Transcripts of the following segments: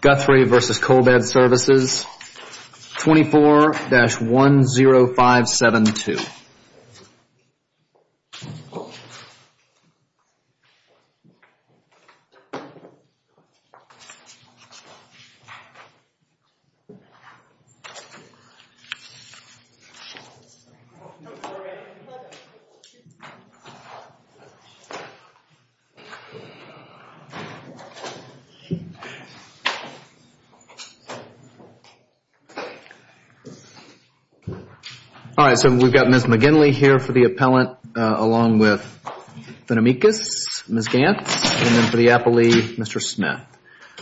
Guthrie v. Coal Bed Services, 24-10572. All right, so we've got Ms. McGinley here for the appellant, along with Benamikas, Ms. Gantz, and for the appellee, Mr. Smith.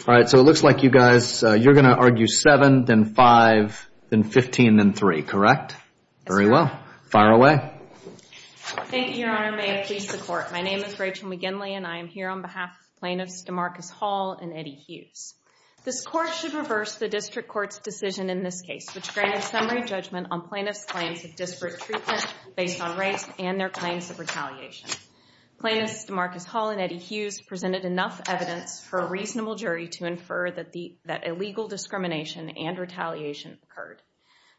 All right, so it looks like you guys, you're going to argue 7, then 5, then 15, then 3, correct? That's correct. Very well. Fire away. Thank you, Your Honor. May it please the Court. My name is Rachel McGinley, and I am here on behalf of Plaintiffs DeMarcus Hall and Eddie Hughes. This Court should reverse the District Court's decision in this case, which granted summary judgment on plaintiffs' claims of disparate treatment based on race and their claims of retaliation. Plaintiffs DeMarcus Hall and Eddie Hughes presented enough evidence for a reasonable jury to infer that illegal discrimination and retaliation occurred.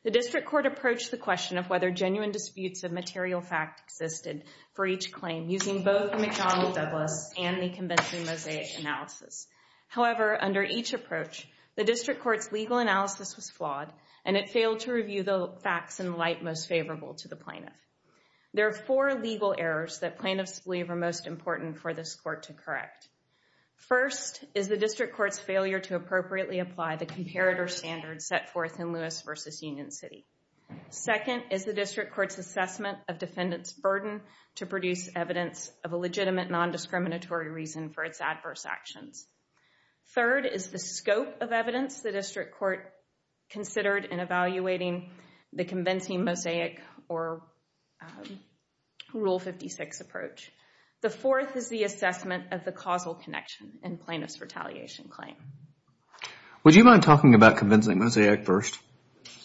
The District Court approached the question of whether genuine disputes of material fact existed for each claim using both McDonnell Douglas and the convention mosaic analysis. However, under each approach, the District Court's legal analysis was flawed, and it failed to review the facts in light most favorable to the plaintiff. There are four legal errors that plaintiffs believe are most important for this Court to correct. First is the District Court's failure to appropriately apply the comparator standards set forth in Lewis v. Union City. Second is the District Court's assessment of defendants' burden to produce evidence of a legitimate nondiscriminatory reason for its adverse actions. Third is the scope of evidence the District Court considered in evaluating the convincing mosaic or Rule 56 approach. The fourth is the assessment of the causal connection in plaintiff's retaliation claim. Would you mind talking about convincing mosaic first?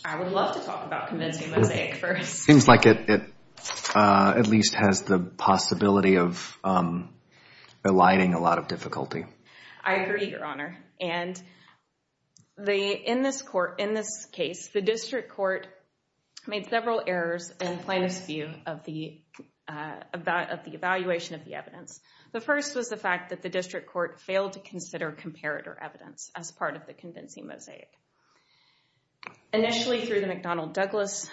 I would love to talk about convincing mosaic first. Seems like it at least has the possibility of eliding a lot of difficulty. I agree, Your Honor. And in this case, the District Court made several errors in plaintiff's view of the evaluation of the evidence. The first was the fact that the District Court failed to consider comparator evidence as part of the convincing mosaic. Initially, through the McDonnell Douglas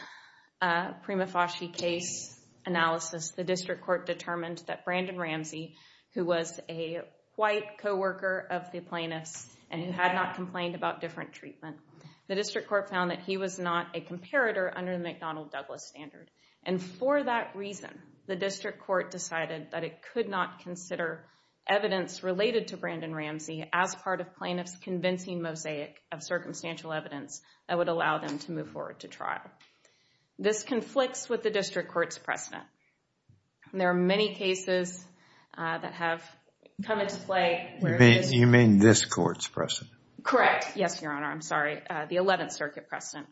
prima facie case analysis, the District Court determined that Brandon Ramsey, who was a white coworker of the plaintiff's and who had not complained about different treatment, the District Court found that he was not a comparator under the McDonnell Douglas standard. And for that reason, the District Court decided that it could not consider evidence related to Brandon Ramsey as part of plaintiff's convincing mosaic of circumstantial evidence that would allow them to move forward to trial. This conflicts with the District Court's precedent. There are many cases that have come into play where You mean this Court's precedent? Correct. Yes, Your Honor. I'm sorry. The 11th Circuit precedent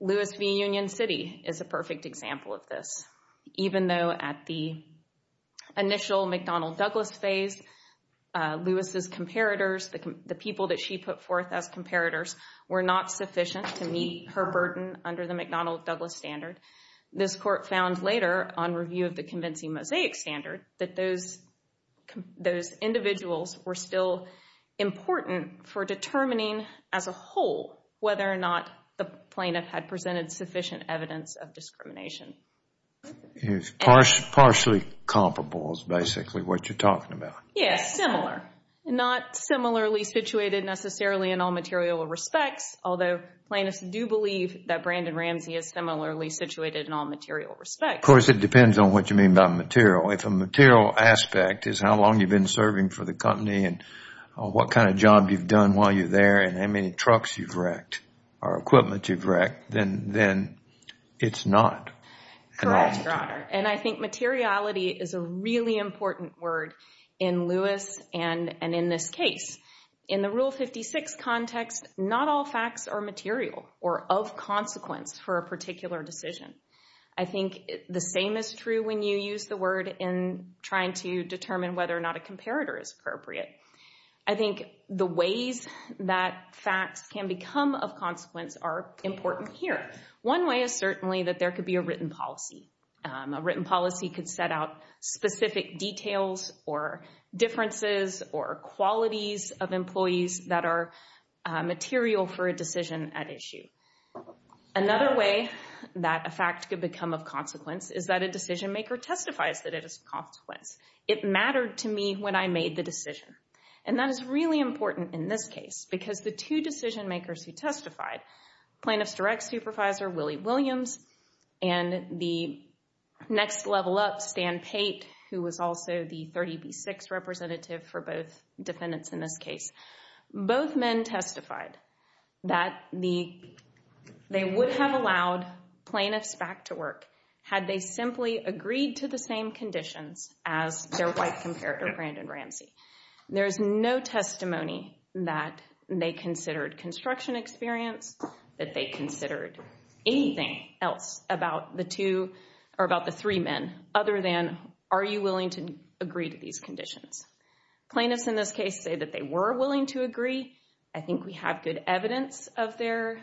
Lewis v. Union City is a perfect example of this, even though at the initial McDonnell Douglas phase, Lewis' comparators, the people that she put forth as comparators, were not sufficient to meet her burden under the McDonnell Douglas standard. This Court found later on review of the convincing mosaic standard that those individuals were still important for determining as a whole whether or not the plaintiff had presented sufficient evidence of discrimination. Partially comparable is basically what you're talking about. Yes, similar. Not similarly situated necessarily in all material respects, although plaintiffs do believe that Brandon Ramsey is similarly situated in all material respects. Of course, it depends on what you mean by material. If a material aspect is how long you've been serving for the company and what kind of job you've done while you're there and how many trucks you've wrecked or equipment you've wrecked, then it's not. Correct, Your Honor. I think materiality is a really important word in Lewis and in this case. In the Rule 56 context, not all facts are material or of consequence for a particular decision. I think the same is true when you use the word in trying to determine whether or not a comparator is appropriate. I think the ways that facts can become of consequence are important here. One way is certainly that there could be a written policy. A written policy could set out specific details or differences or qualities of employees that are material for a decision at issue. Another way that a fact could become of consequence is that a decision maker testifies that it is of consequence. It mattered to me when I made the decision. And that is really important in this case because the two decision makers who testified, plaintiff's direct supervisor, Willie Williams, and the next level up, Stan Pate, who was also the 30B6 representative for both defendants in this case, both men testified that they would have allowed plaintiffs back to work had they simply agreed to the same conditions as their white comparator, Brandon Ramsey. There is no testimony that they considered construction experience, that they considered construction experience, and are you willing to agree to these conditions. Plaintiffs in this case say that they were willing to agree. I think we have good evidence of their,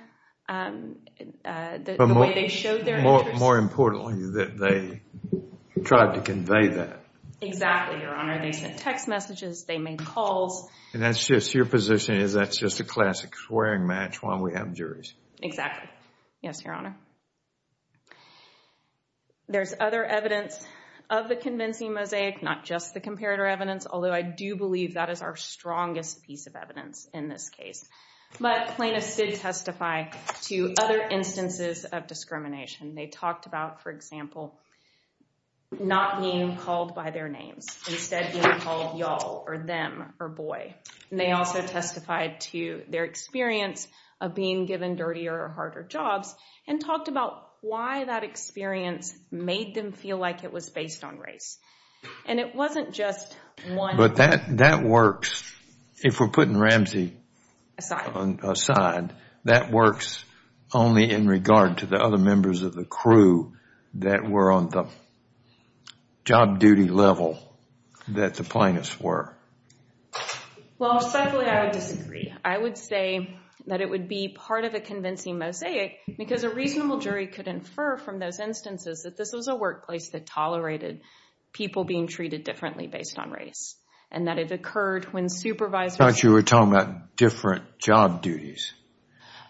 the way they showed their interest. More importantly, that they tried to convey that. Exactly, Your Honor. They sent text messages. They made calls. And that's just, your position is that's just a classic swearing match while we have juries. Exactly. Yes, Your Honor. There's other evidence of the convincing mosaic, not just the comparator evidence, although I do believe that is our strongest piece of evidence in this case. But plaintiffs did testify to other instances of discrimination. They talked about, for example, not being called by their names, instead being called y'all or them or boy. They also testified to their experience of being given dirtier or harder jobs and talked about why that experience made them feel like it was based on race. And it wasn't just one. But that works. If we're putting Ramsey aside, that works only in regard to the other members of the crew that were on the job duty level that the plaintiffs were. Well, secondly, I would disagree. I would say that it would be part of a convincing mosaic because a reasonable jury could infer from those instances that this was a workplace that tolerated people being treated differently based on race and that it occurred when supervisors... I thought you were talking about different job duties.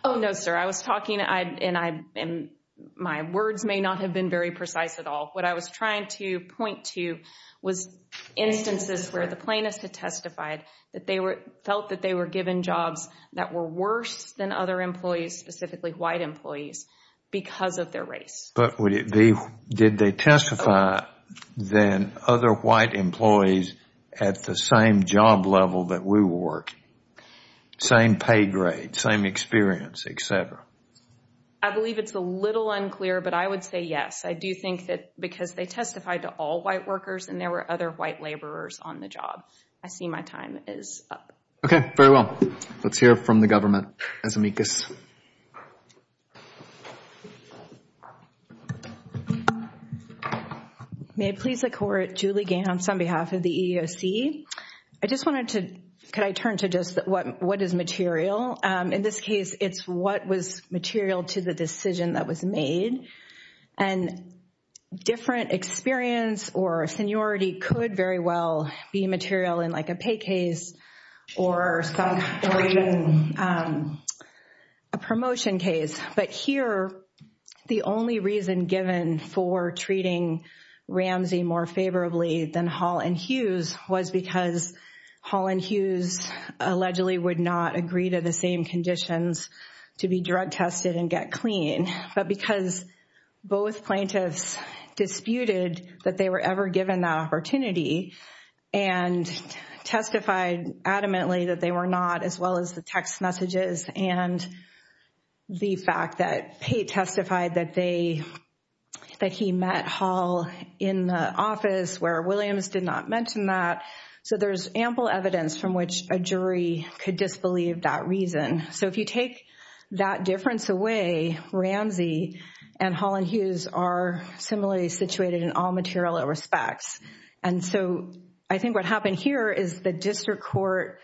Oh, no, sir. I was talking, and my words may not have been very precise at all. What I was trying to point to was instances where the plaintiffs had testified that they felt that they were given jobs that were worse than other employees, specifically white employees, because of their race. But did they testify than other white employees at the same job level that we were working? Same pay grade, same experience, et cetera? I believe it's a little unclear, but I would say yes. I do think that because they testified to all white workers and there were other white laborers on the job, I see my time is up. Okay, very well. Let's hear from the government. Azumikis. May it please the court. Julie Gahan on behalf of the EEOC. I just wanted to... Could I turn to just what is material? In this case, it's what was material to the decision that was made, and different experience or seniority could very well be material in like a pay case or a promotion case. But here, the only reason given for treating Ramsey more favorably than Hall and Hughes was because Hall and Hughes allegedly would not agree to the same conditions to be drug tested and get clean. But because both plaintiffs disputed that they were ever given that opportunity and testified adamantly that they were not, as well as the text messages and the fact that he testified that he met Hall in the office where Williams did not mention that. So there's ample evidence from which a jury could disbelieve that reason. So if you take that difference away, Ramsey and Hall and Hughes are similarly situated in all material respects. And so I think what happened here is the district court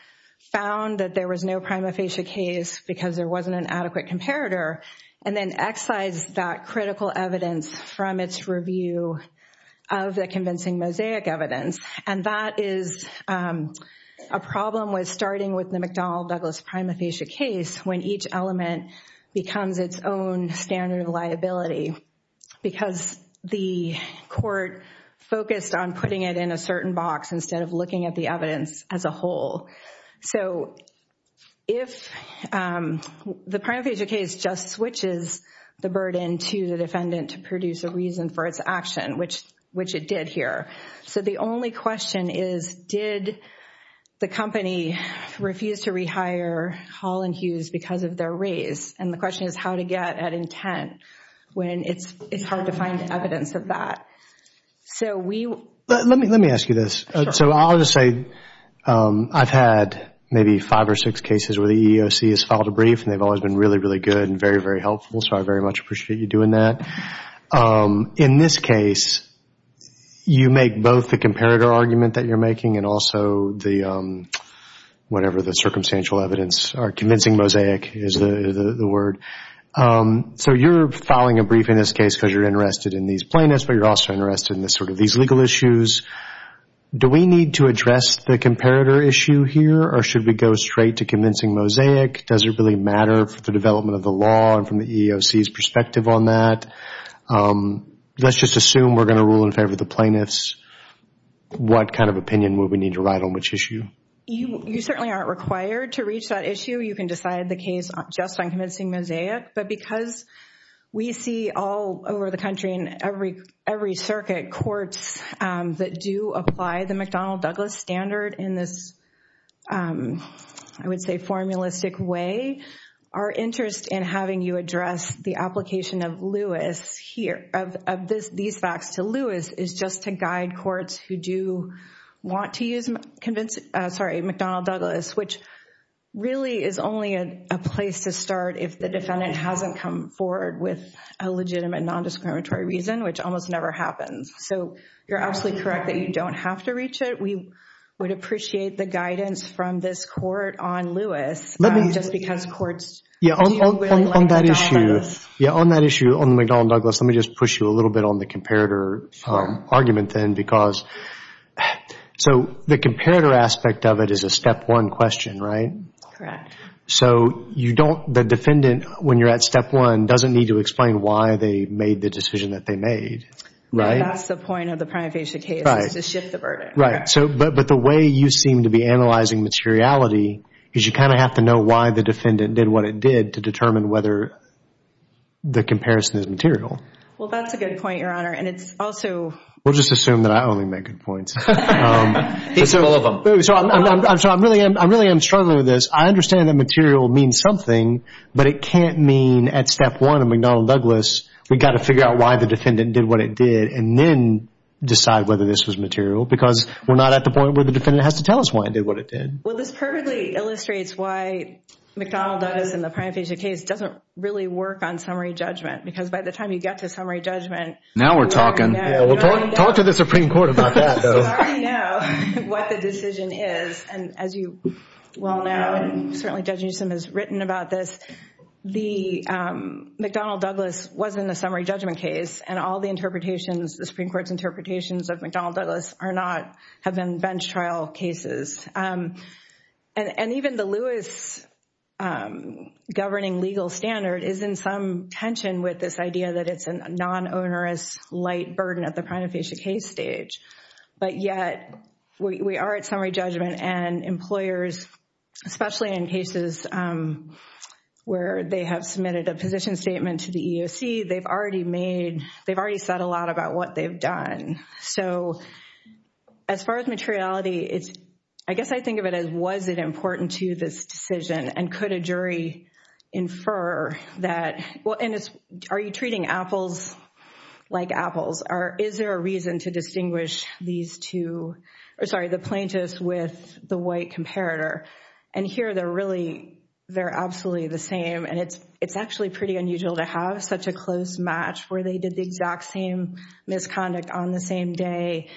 found that there was no prima facie case because there wasn't an adequate comparator and then excised that critical evidence from its review of the convincing mosaic evidence. And that is a problem with starting with the McDonnell Douglas prima facie case when each element becomes its own standard of liability because the court focused on putting it in a certain box instead of looking at the evidence as a whole. So if the prima facie case just switches the burden to the defendant to produce a reason for its action, which it did here. So the only question is did the company refuse to rehire Hall and Hughes because of their race? And the question is how to get at intent when it's hard to find evidence of that. So we... Let me ask you this. So I'll just say I've had maybe five or six cases where the EEOC has filed a brief and they've always been really, really good and very, very helpful. So I very much appreciate you doing that. In this case, you make both the comparator argument that you're making and also the whatever the circumstantial evidence or convincing mosaic is the word. So you're filing a brief in this case because you're interested in these plaintiffs, but you're also interested in sort of these legal issues. Do we need to address the comparator issue here or should we go straight to convincing mosaic? Does it really matter for the development of the law and from the EEOC's perspective on that? Let's just assume we're going to rule in favor of the plaintiffs. What kind of opinion would we need to write on which issue? You certainly aren't required to reach that issue. You can decide the case just on convincing mosaic. But because we see all over the country in every circuit, courts that do apply the McDonnell-Douglas standard in this I would say formalistic way, our interest in having you address the application of these facts to Lewis is just to guide courts who do want to use McDonnell-Douglas, which really is only a place to start if the defendant hasn't come forward with a legitimate non-discriminatory reason, which almost never happens. So you're absolutely correct that you don't have to reach it. We would appreciate the guidance from this court on Lewis just because courts do really like McDonnell-Douglas. On that issue on the McDonnell-Douglas, let me just push you a little bit on the comparator argument then. So the comparator aspect of it is a step one question, right? Correct. So the defendant, when you're at step one, doesn't need to explain why they made the decision that they made, right? That's the point of the prima facie case is to shift the burden. Right. But the way you seem to be analyzing materiality is you kind of have to know why the defendant did what it did to determine whether the comparison is material. Well, that's a good point, Your Honor, and it's also We'll just assume that I only make good points. I really am struggling with this. I understand that material means something, but it can't mean at step one of McDonnell-Douglas, we've got to figure out why the defendant did what it did and then decide whether this was material because we're not at the point where the defendant has to tell us why it did what it did. Well, this perfectly illustrates why McDonnell-Douglas in the prima facie case doesn't really work on summary judgment because by the time you get to summary judgment, you already know what the decision is. And as you well know, and certainly Judge Newsom has written about this, the McDonnell-Douglas wasn't a summary judgment case and all the interpretations, the Supreme Court's interpretations of McDonnell-Douglas are not, have been bench trial cases. And even the Lewis governing legal standard is in some tension with this idea that it's a non-onerous light burden at the prima facie case stage. But yet we are at summary judgment and employers, especially in cases where they have submitted a position statement to the EEOC, they've already made, they've already said a lot about what they've done. So as far as materiality, I guess I think of it as, was it important to this decision and could a jury infer that, well, are you treating apples like apples or is there a reason to distinguish these two, or sorry, the plaintiffs with the white comparator? And here they're really, they're absolutely the same. And it's actually pretty unusual to have such a close match where they did the exact same misconduct on the same day.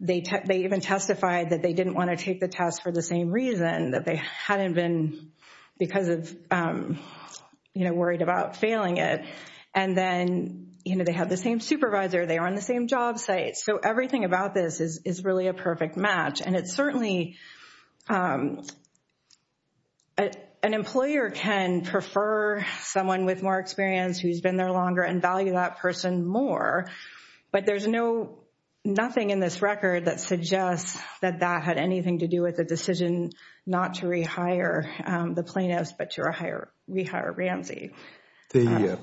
They even testified that they didn't want to take the test for the same reason, that they hadn't been, because of, you know, worried about failing it. And then, you know, they have the same supervisor, they are on the same job site. So everything about this is really a perfect match. And it's certainly an employer can prefer someone with more experience who's been there longer and value that person more. But there's no, nothing in this record that suggests that that had anything to do with the decision not to rehire the plaintiffs, but to rehire Ramsey. The,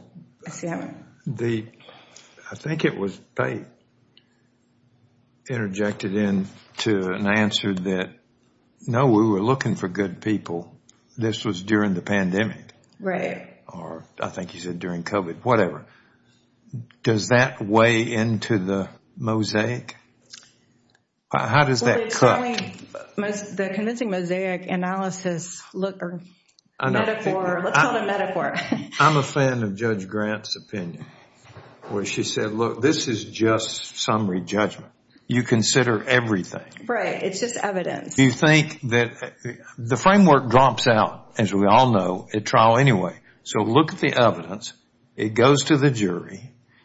I think it was, Faith interjected into an answer that, no, we were looking for good people. This was during the pandemic. Right. Or I think you said during COVID, whatever. Does that weigh into the mosaic? How does that cut? The convincing mosaic analysis look, or metaphor, let's call it a metaphor. I'm a fan of Judge Grant's opinion, where she said, look, this is just summary judgment. You consider everything. Right. It's just evidence. You think that, the framework drops out, as we all know, at trial anyway. So look at the evidence. It goes to the jury.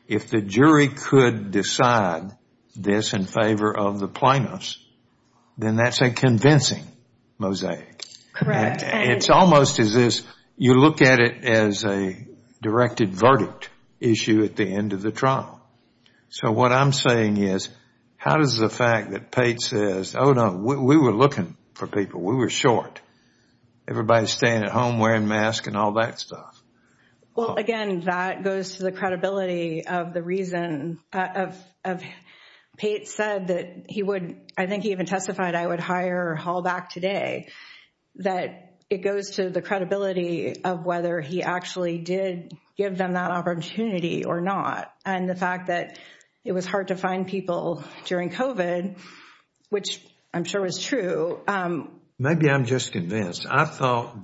If the jury could decide this in favor of the plaintiffs, then that's a convincing mosaic. Correct. It's almost as if you look at it as a directed verdict issue at the end of the trial. So what I'm saying is, how does the fact that Pate says, oh no, we were looking for people. We were short. Everybody's staying at home wearing masks and all that stuff. Well, again, that goes to the credibility of the reason of Pate said that he would, I think he even testified, I would hire Hall back today. That it goes to the credibility of whether he actually did give them that opportunity or not. And the fact that it was hard to find people during COVID, which I'm sure was true. Maybe I'm just convinced. I thought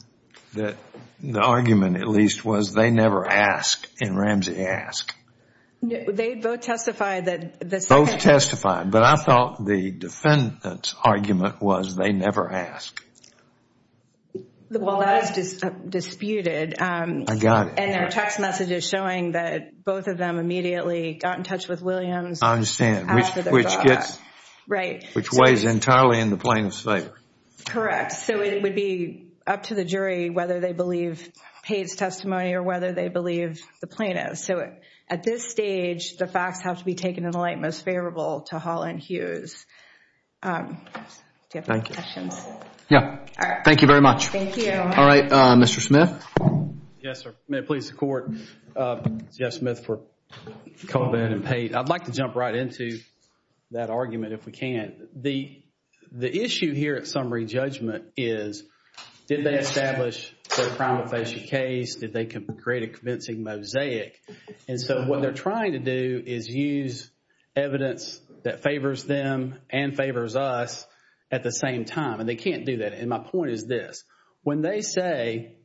that the argument at least was they never ask and Ramsey asked. They both testified. Both testified, but I thought the defendant's argument was they never asked. Well, that is disputed. I got it. And their text messages showing that both of them immediately got in touch with Williams. I understand. Which weighs entirely in the plaintiff's favor. Correct. So it would be up to the jury whether they believe Pate's testimony or whether they believe the plaintiff. So at this stage, the facts have to be taken in the light most favorable to Hall and Hughes. Thank you very much. All right, Mr. Smith. Yes, sir. May it please the court. Jeff Smith for Colvin and Pate. I'd like to jump right into that argument if we can. The issue here at summary judgment is did they establish their crime of facial case? Did they create a convincing mosaic? And so what they're trying to do is use evidence that favors them and favors us at the same time. And they can't do that. And my point is this. When they say,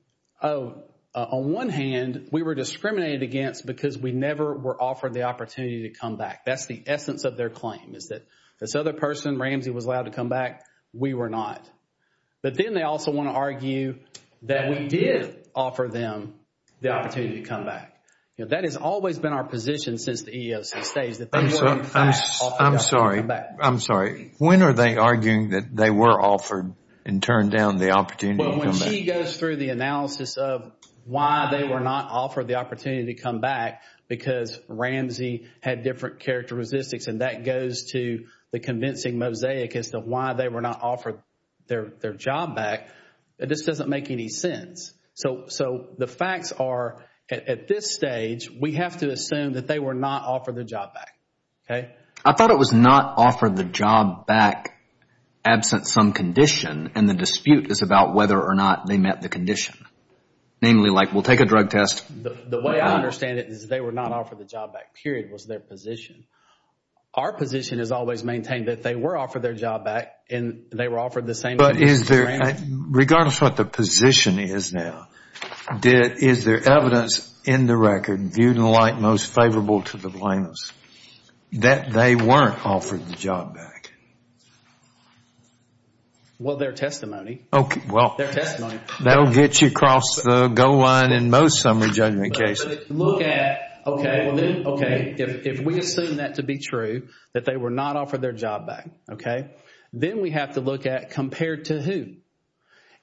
oh, on one hand, we were discriminated against because we never were offered the opportunity to come back. That's the essence of their claim is that this other person, Ramsey, was allowed to come back. We were not. But then they also want to argue that we did offer them the opportunity to come back. That has always been our position since the EEOC stage. I'm sorry. I'm sorry. When are they arguing that they were offered and turned down the opportunity to come back? Well, when she goes through the analysis of why they were not offered the opportunity to come back because Ramsey had different characteristics and that goes to the convincing mosaic as to why they were not offered their job back, it just doesn't make any sense. So the facts are at this stage, we have to assume that they were not offered the job back absent some condition and the dispute is about whether or not they met the condition. Namely, like, we'll take a drug test. The way I understand it is they were not offered the job back, period, was their position. Our position has always maintained that they were offered their job back and they were offered the same. But is there, regardless of what the position is now, is there evidence in the record viewed in light most favorable to the plaintiffs that they weren't offered the job back? Well, their testimony. That will get you across the goal line in most summary judgment cases. If we assume that to be true, that they were not offered their job back, then we have to look at compared to who.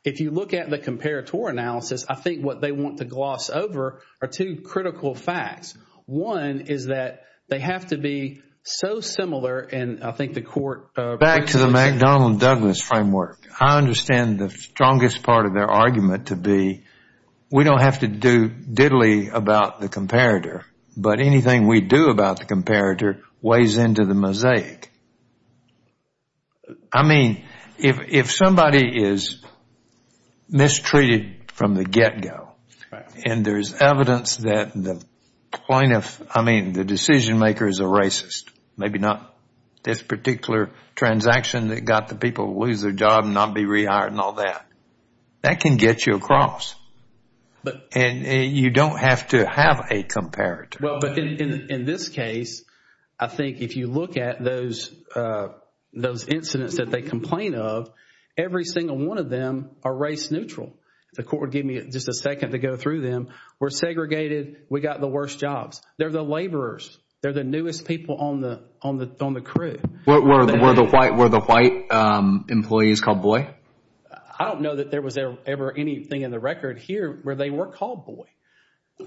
If you look at the comparator score analysis, I think what they want to gloss over are two critical facts. One is that they have to be so similar and I think the court Back to the McDonnell Douglas framework. I understand the strongest part of their argument to be we don't have to do diddly about the comparator, but anything we do about the comparator weighs into the mosaic. I mean, if somebody is mistreated from the get-go and there is evidence that the decision makers are racist, maybe not this particular transaction that got the people to lose their job and not be rehired and all that, that can get you across. And you don't have to have a those incidents that they complain of, every single one of them are race neutral. The court would give me just a second to go through them. We're segregated. We got the worst jobs. They're the laborers. They're the newest people on the crew. Were the white employees called boy? I don't know that there was ever anything in the record here where they were called boy.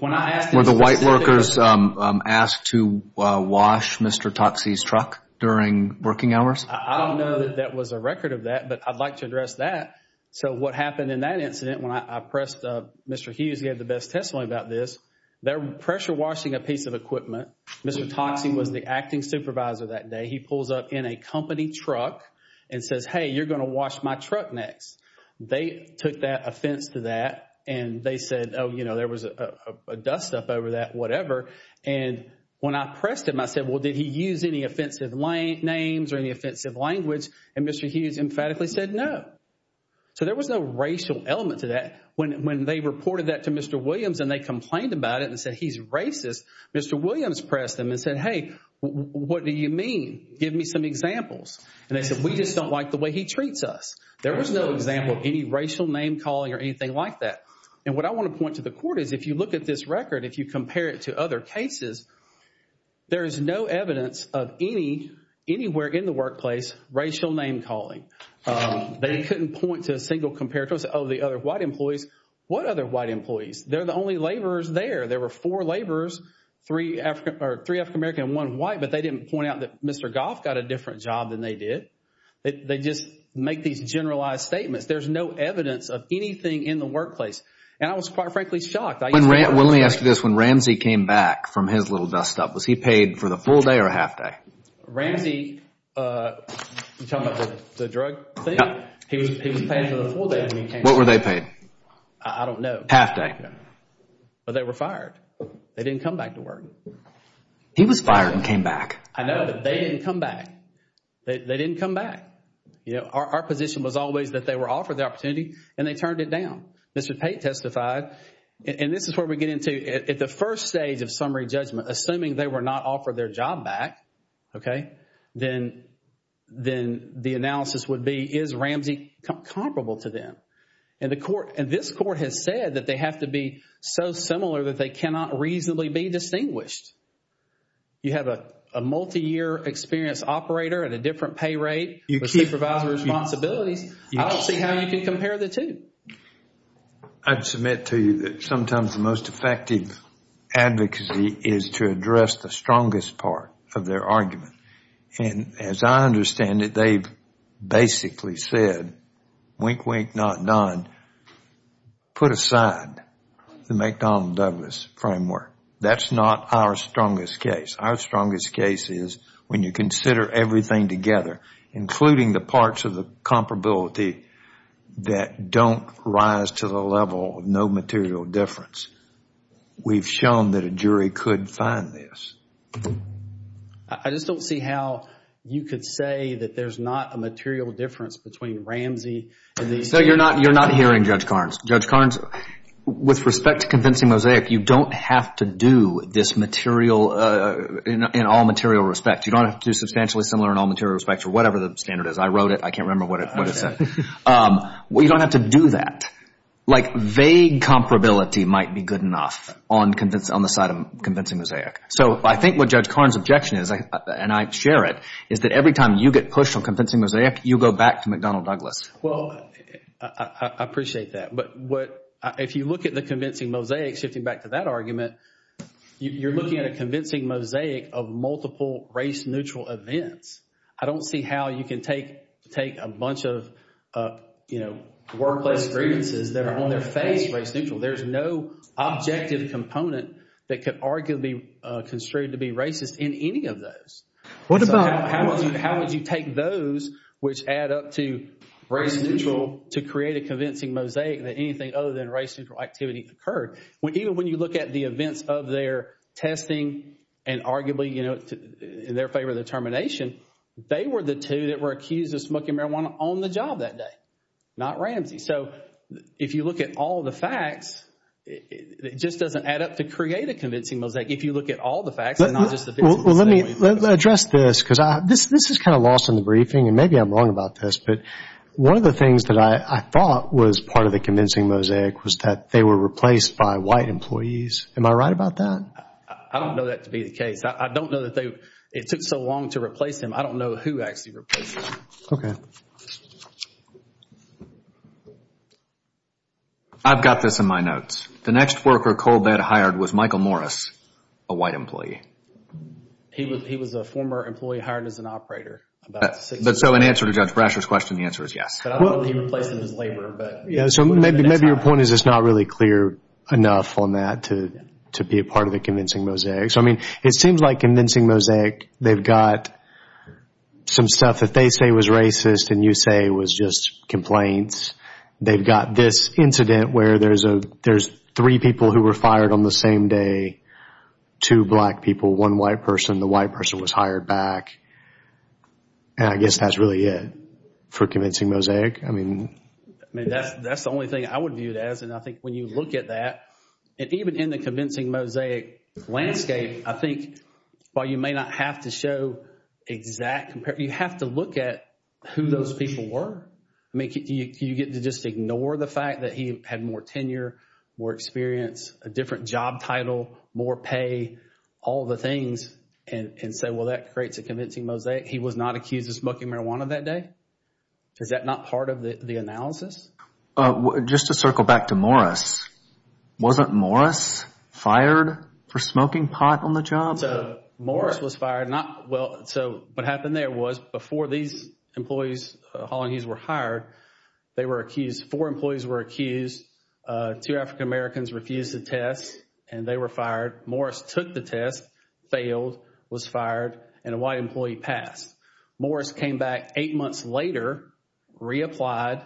Were the white workers asked to wash Mr. Toxie's truck during working hours? I don't know that there was a record of that, but I'd like to address that. So what happened in that incident when I pressed Mr. Hughes, he had the best testimony about this. They're pressure washing a piece of equipment. Mr. Toxie was the acting supervisor that day. He pulls up in a company truck and says, hey, you're going to wash my truck next. They took that offense to that and they said, oh, you know, there was a dust up over that, whatever. And when I pressed him, I said, well, did he use any offensive names or any offensive language? And Mr. Hughes emphatically said no. So there was no racial element to that. When they reported that to Mr. Williams and they complained about it and said he's racist, Mr. Williams pressed him and said, hey, what do you mean? Give me some examples. And they said, we just don't like the way he treats us. There was no example of any racial name calling or anything like that. And what I want to point to the court is if you look at this record, if you compare it to other cases, there is no evidence of any, anywhere in the workplace, racial name calling. They couldn't point to a single comparator and say, oh, the other white employees. What other white employees? They're the only laborers there. There were four laborers, three African American and one white, but they didn't point out that Mr. Goff got a different job than they did. They just make these generalized statements. There's no evidence of anything in the workplace. And I was quite frankly shocked. Let me ask you this. When Ramsey came back from his little dust up, was he paid for the full day or half day? Ramsey, you're talking about the drug thing? He was paid for the full day. What were they paid? I don't know. Half day. But they were fired. They didn't come back to work. He was fired and came back. I know, but they didn't come back. They didn't come back. Our position was always that they were offered the opportunity and they turned it down. Mr. Pate testified, and this is where we get into, at the first stage of summary judgment, assuming they were not offered their job back, then the analysis would be, is Ramsey comparable to them? And this court has said that they have to be so similar that they cannot reasonably be distinguished. You have a multi-year experience operator at a different pay rate, supervisor responsibilities. I don't see how you can compare the two. I'd submit to you that sometimes the most effective advocacy is to address the strongest part of their argument. And as I understand it, they've basically said, wink, wink, not done, put aside the McDonald-Douglas framework. That's not our strongest case. Our strongest case is when you consider everything together, including the parts of the comparability that don't rise to the level of no material difference. We've shown that a jury could find this. I just don't see how you could say that there's not a material difference between Ramsey and these two. So you're not hearing Judge Carnes. Judge Carnes, with respect to convincing Mosaic, you don't have to do this in all material respect. You don't have to do substantially similar in all material respects or whatever the standard is. I wrote it. I can't remember what it said. You don't have to do that. Vague comparability might be good enough on the side of convincing Mosaic. So I think what Judge Carnes' objection is, and I share it, is that every time you get pushed on convincing Mosaic, you go back to McDonald-Douglas. I appreciate that. But if you look at the convincing Mosaic, shifting back to that argument, you're looking at a convincing Mosaic of multiple race-neutral events. I don't see how you can take a bunch of, you know, workplace grievances that are on their face race-neutral. There's no objective component that could arguably be construed to be racist in any of those. How would you take those which add up to race-neutral to create a convincing Mosaic that anything other than race-neutral activity occurred? Even when you look at the events of their testing and arguably, you know, in their favor of the termination, they were the two that were accused of smoking marijuana on the job that day, not Ramsey. So if you look at all the facts, it just doesn't add up to create a convincing Mosaic. If you look at all the facts and not just the... Well, let me address this because this is kind of lost in the briefing and maybe I'm wrong about this, but one of the things that I thought was part of the convincing Mosaic was that they were replaced by white employees. Am I right about that? I don't know that to be the case. I don't know that they, it took so long to replace him. I don't know who actually replaced him. I've got this in my notes. The next worker Colbett hired was Michael Morris, a white employee. He was a former employee hired as an operator. So in answer to Judge Brasher's question, the answer is yes. Maybe your point is it's not really clear enough on that to be a part of the convincing Mosaic. It seems like convincing Mosaic, they've got some stuff that they say was racist and you say was just complaints. They've got this incident where there's three people who were fired on the same day, two black people, one white person. The white person was hired back. And I guess that's really it for convincing Mosaic. I mean, that's the only thing I would view it as and I think when you look at that, even in the convincing Mosaic landscape, I think while you may not have to show exact... You have to look at who those people were. I mean, you get to just ignore the fact that he had more tenure, more experience, a different job title, more pay, all the things and say, well, that creates a convincing Mosaic. He was not accused of smoking marijuana that day. Is that not part of the analysis? Just to circle back to Morris, wasn't Morris fired for smoking pot on the job? Morris was fired. What happened there was before these employees were hired, four employees were accused, two African-Americans refused the test and they were fired. Morris took the test, failed, was fired, and a white employee passed. Morris came back eight months later, reapplied,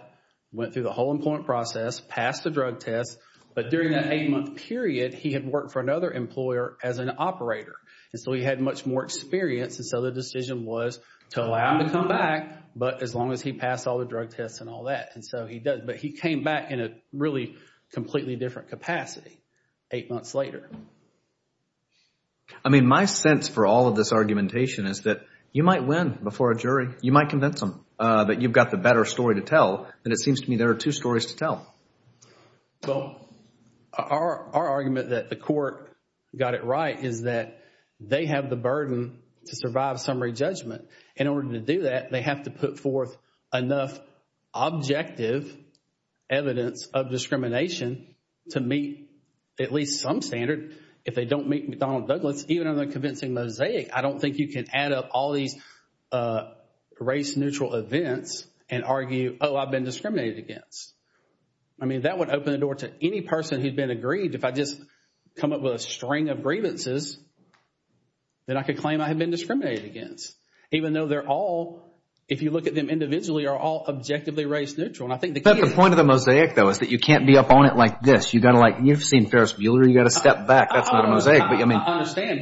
went through the whole employment process, passed the drug test, but during that eight-month period, he had worked for another employer as an operator and so he had much more experience and so the decision was to allow him to come back, but as long as he passed all the drug tests and all that. But he came back in a really completely different capacity eight months later. I mean, my sense for all of this argumentation is that you might win before a jury. You might convince them that you've got the better story to tell and it seems to me there are two stories to tell. Well, our argument that the court got it right is that they have the burden to survive summary judgment. In order to do that, they have to put forth enough objective evidence of discrimination to meet at least some standard. If they don't meet McDonnell Douglas, even on the convincing mosaic, I don't think you can add up all these race-neutral events and argue, oh, I've been discriminated against. I mean, that would open the door to any person who'd been aggrieved if I just come up with a string of grievances that I could claim I have been discriminated against, even though they're all, if you look at them individually, are all objectively race-neutral. The point of the mosaic, though, is that you can't be up on it like this. You've seen Ferris Bueller. You've got to step back. That's not a mosaic. I understand,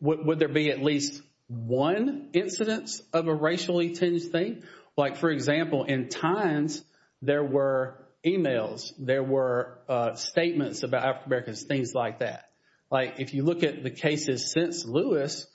but would there be at least one incidence of a racially-tinged thing? Like, for example, in times there were emails, there were statements about African-Americans, things like that. Like, if you look at the cases since Lewis,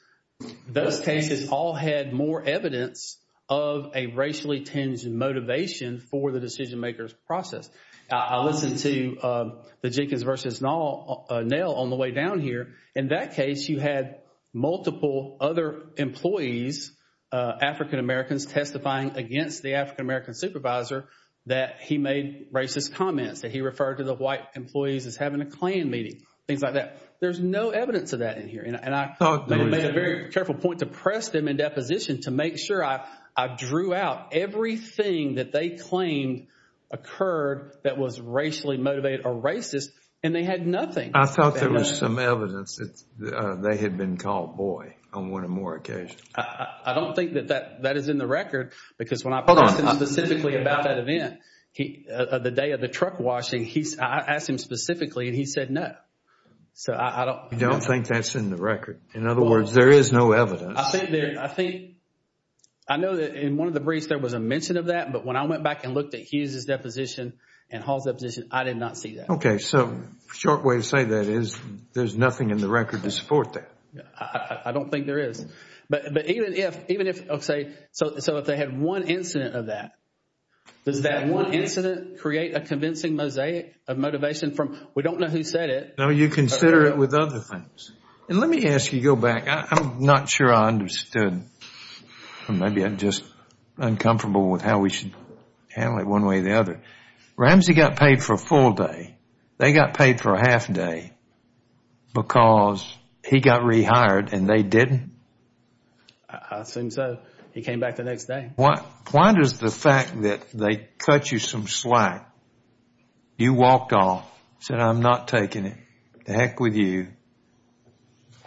those cases all had more evidence of a racially-tinged motivation for the decision-maker's process. I listened to the Jenkins versus Nell on the way down here. In that case, you had multiple other employees, African-Americans, testifying against the African-American supervisor that he made racist comments, that he referred to the white employees as having a Klan meeting, things like that. There's no evidence of that in here, and I made a very careful point to press them in deposition to make sure I drew out everything that they claimed occurred that was racially-motivated or racist, and they had nothing. I thought there was some evidence that they had been called boy on one or more occasions. I don't think that that is in the record, because when I pressed him specifically about that event, the day of the truck washing, I asked him specifically, and he said no. You don't think that's in the record? In other words, there is no evidence? I know that in one of the briefs there was a mention of that, but when I went back and looked at Hughes' deposition and Hall's deposition, I did not see that. Okay, so a short way to say that is there's nothing in the record to support that. I don't think there is. So if they had one incident of that, does that one incident create a convincing mosaic of motivation from we don't know who said it? No, you consider it with other things. Let me ask you to go back. I'm not sure I understood. Maybe I'm just uncomfortable with how we should handle it one way or the other. Ramsey got paid for a full day. They got paid for a half day because he got rehired and they didn't? I assume so. He came back the next day. Why does the fact that they cut you some slack, you walked off, said I'm not taking it, to heck with you.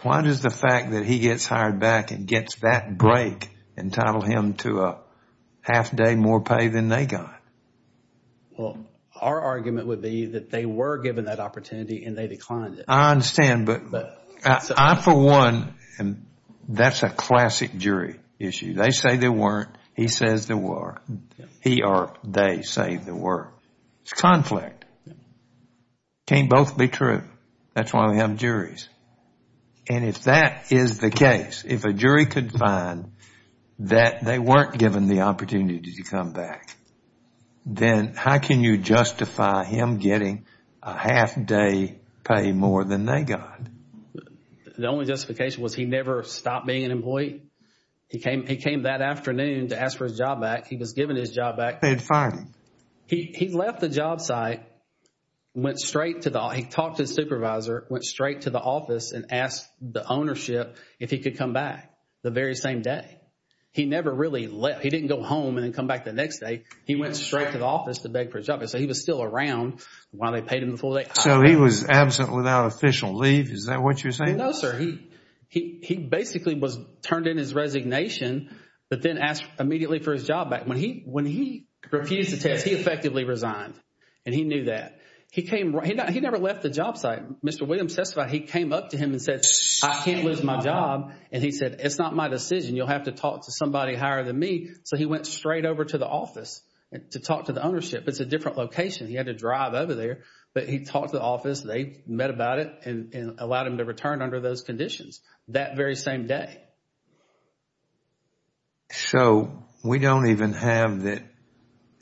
Why does the fact that he gets hired back and gets that break entitle him to a half day more pay than they got? Well, our argument would be that they were given that opportunity and they declined it. I understand, but I for one, that's a classic jury issue. They say they weren't. He says they were. He or they say they were. It's conflict. Can't both be true. That's why we have juries. And if that is the case, if a jury could find that they weren't given the opportunity to come back, then how can you justify him getting a half day pay more than they got? The only justification was he never stopped being an employee. He came that afternoon to ask for his job back. He was given his job back. They fired him. He left the job site, went straight to the office. He talked to his supervisor, went straight to the office and asked the ownership if he could come back the very same day. He never really left. He didn't go home and then come back the next day. He went straight to the office to beg for his job back. So he was still around while they paid him the full day. So he was absent without official leave. Is that what you're saying? No, sir. He basically was turned in his resignation, but then asked immediately for his job back. When he refused the test, he effectively resigned and he knew that. He never left the job site. Mr. Williams testified he came up to him and said, I can't lose my job. And he said, it's not my decision. You'll have to talk to somebody higher than me. So he went straight over to the office to talk to the ownership. It's a different location. He had to drive over there, but he talked to the office. They met about it and allowed him to return under those conditions that very same day. So we don't even have that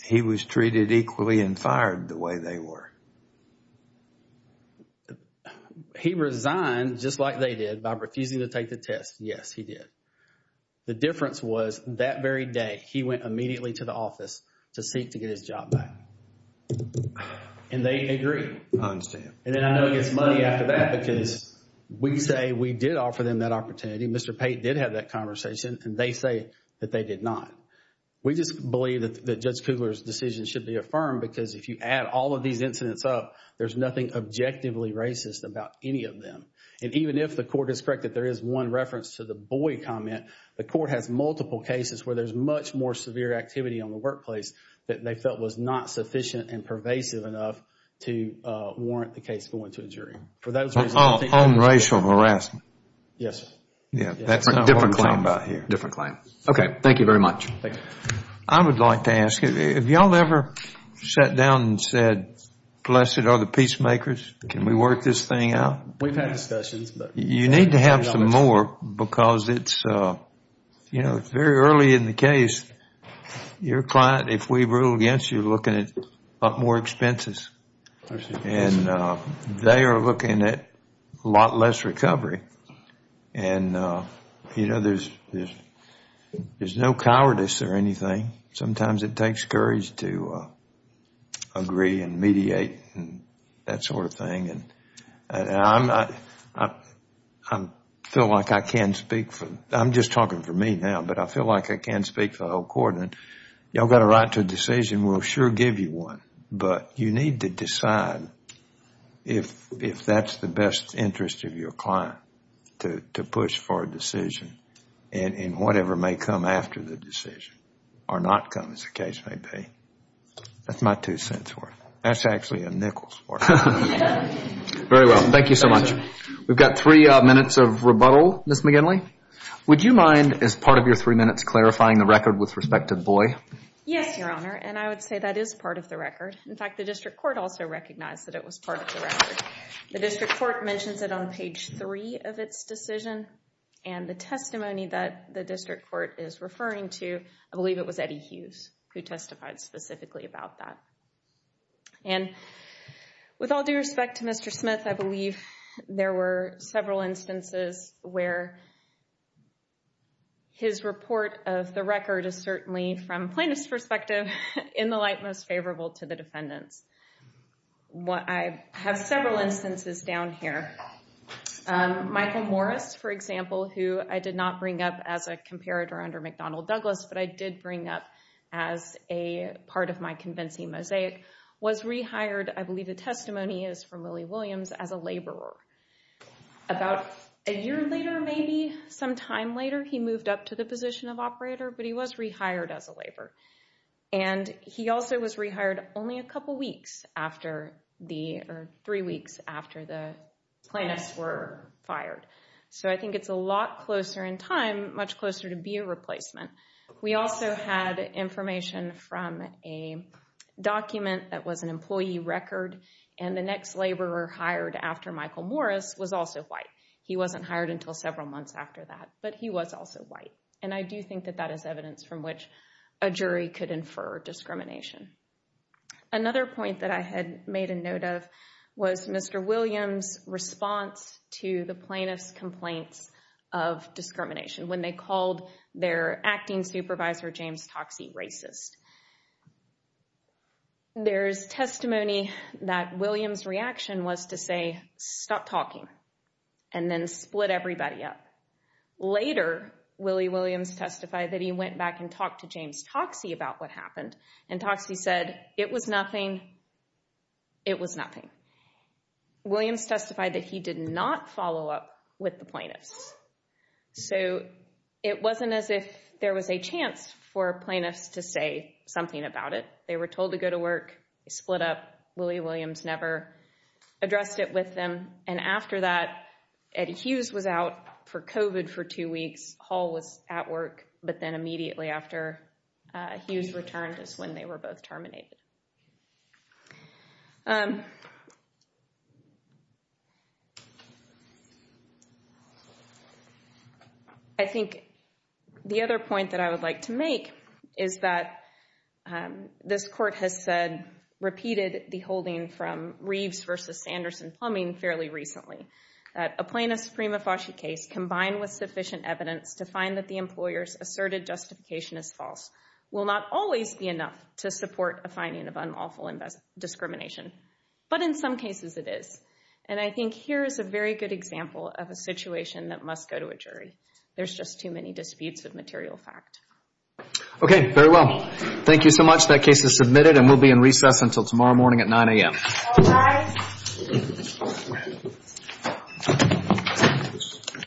he was treated equally and fired the way they were. He resigned just like they did by refusing to take the test. Yes, he did. The difference was that very day, he went immediately to the office to seek to get his job back. And they agreed. I understand. And then I know he gets money after that because we say we did offer them that opportunity. Mr. Pate did have that conversation and they say that they did not. We just believe that Judge Kugler's decision should be affirmed because if you add all of these incidents up, there's nothing objectively racist about any of them. And even if the court is correct that there is one reference to the boy comment, the court has multiple cases where there's much more severe activity on the workplace that they felt was not sufficient and pervasive enough to warrant the case going to a jury. On racial harassment. Yes. That's a different claim. Different claim. Okay, thank you very much. I would like to ask, have you all ever sat down and said, blessed are the peacemakers, can we work this thing out? We've had discussions. You need to have some more because it's very early in the case. Your client, if we rule against you, looking at a lot more expenses. And they are looking at a lot less recovery. And, you know, there's no cowardice or anything. Sometimes it takes courage to agree and mediate and that sort of thing. And I feel like I can speak for, I'm just talking for me now, but I feel like I can speak for the whole court. Y'all got a right to a decision. We'll sure give you one. But you need to decide if that's the best interest of your client to push for a decision in whatever may come after the decision or not come as the case may be. That's my two cents worth. That's actually a nickel's worth. Very well. Thank you so much. We've got three minutes of rebuttal, Ms. McGinley. Would you mind, as part of your three minutes, clarifying the record with respect to the boy? Yes, Your Honor. And I would say that is part of the record. In fact, the district court also recognized that it was part of the record. The district court mentions it on page three of its decision. And the testimony that the district court is referring to, I believe it was Eddie Hughes who testified specifically about that. And with all due respect to Mr. Smith, I believe there were several instances where his report of the record is certainly, from plaintiff's perspective, in the light most favorable to the defendants. I have several instances down here. Michael Morris, for example, who I did not bring up as a comparator under McDonnell Douglas, but I did bring up as a part of my convincing mosaic, was rehired, I believe the testimony is from Willie Williams, as a laborer. About a year later, maybe some time later, he moved up to the position of operator, but he was rehired as a laborer. And he also was rehired only a couple weeks after the, or three weeks after the plaintiffs were fired. So I think it's a lot closer in time, much closer to be a replacement. We also had information from a document that was an employee record, and the next laborer hired after Michael Morris was also white. He wasn't hired until several months after that, but he was also white. And I do think that that is evidence from which a jury could infer discrimination. Another point that I had made a note of was Mr. Williams' response to the plaintiffs' complaints of discrimination, when they called their acting supervisor, James Toxey, racist. There's testimony that Williams' reaction was to say, stop talking, and then split everybody up. Later, Willie Williams testified that he went back and talked to James Toxey about what happened. And Toxey said, it was nothing. It was nothing. Williams testified that he did not follow up with the plaintiffs. So it wasn't as if there was a chance for plaintiffs to say something about it. They were told to go to work. They split up. Willie Williams never addressed it with them. And after that, Eddie Hughes was out for COVID for two weeks. Hall was at work. But then immediately after Hughes returned is when they were both terminated. I think the other point that I would like to make is that this court has said, repeated the holding from Reeves v. Sanderson Plumbing fairly recently, that a plaintiff's prima facie case, combined with sufficient evidence to find that the employer's asserted justification is false, will not always be enough to support a finding of unlawful discrimination. But in some cases, it is. And I think here is a very good example of a situation that must go to a jury. There's just too many disputes of material fact. Okay, very well. Thank you so much. That case is submitted and will be in recess until tomorrow morning at 9 a.m.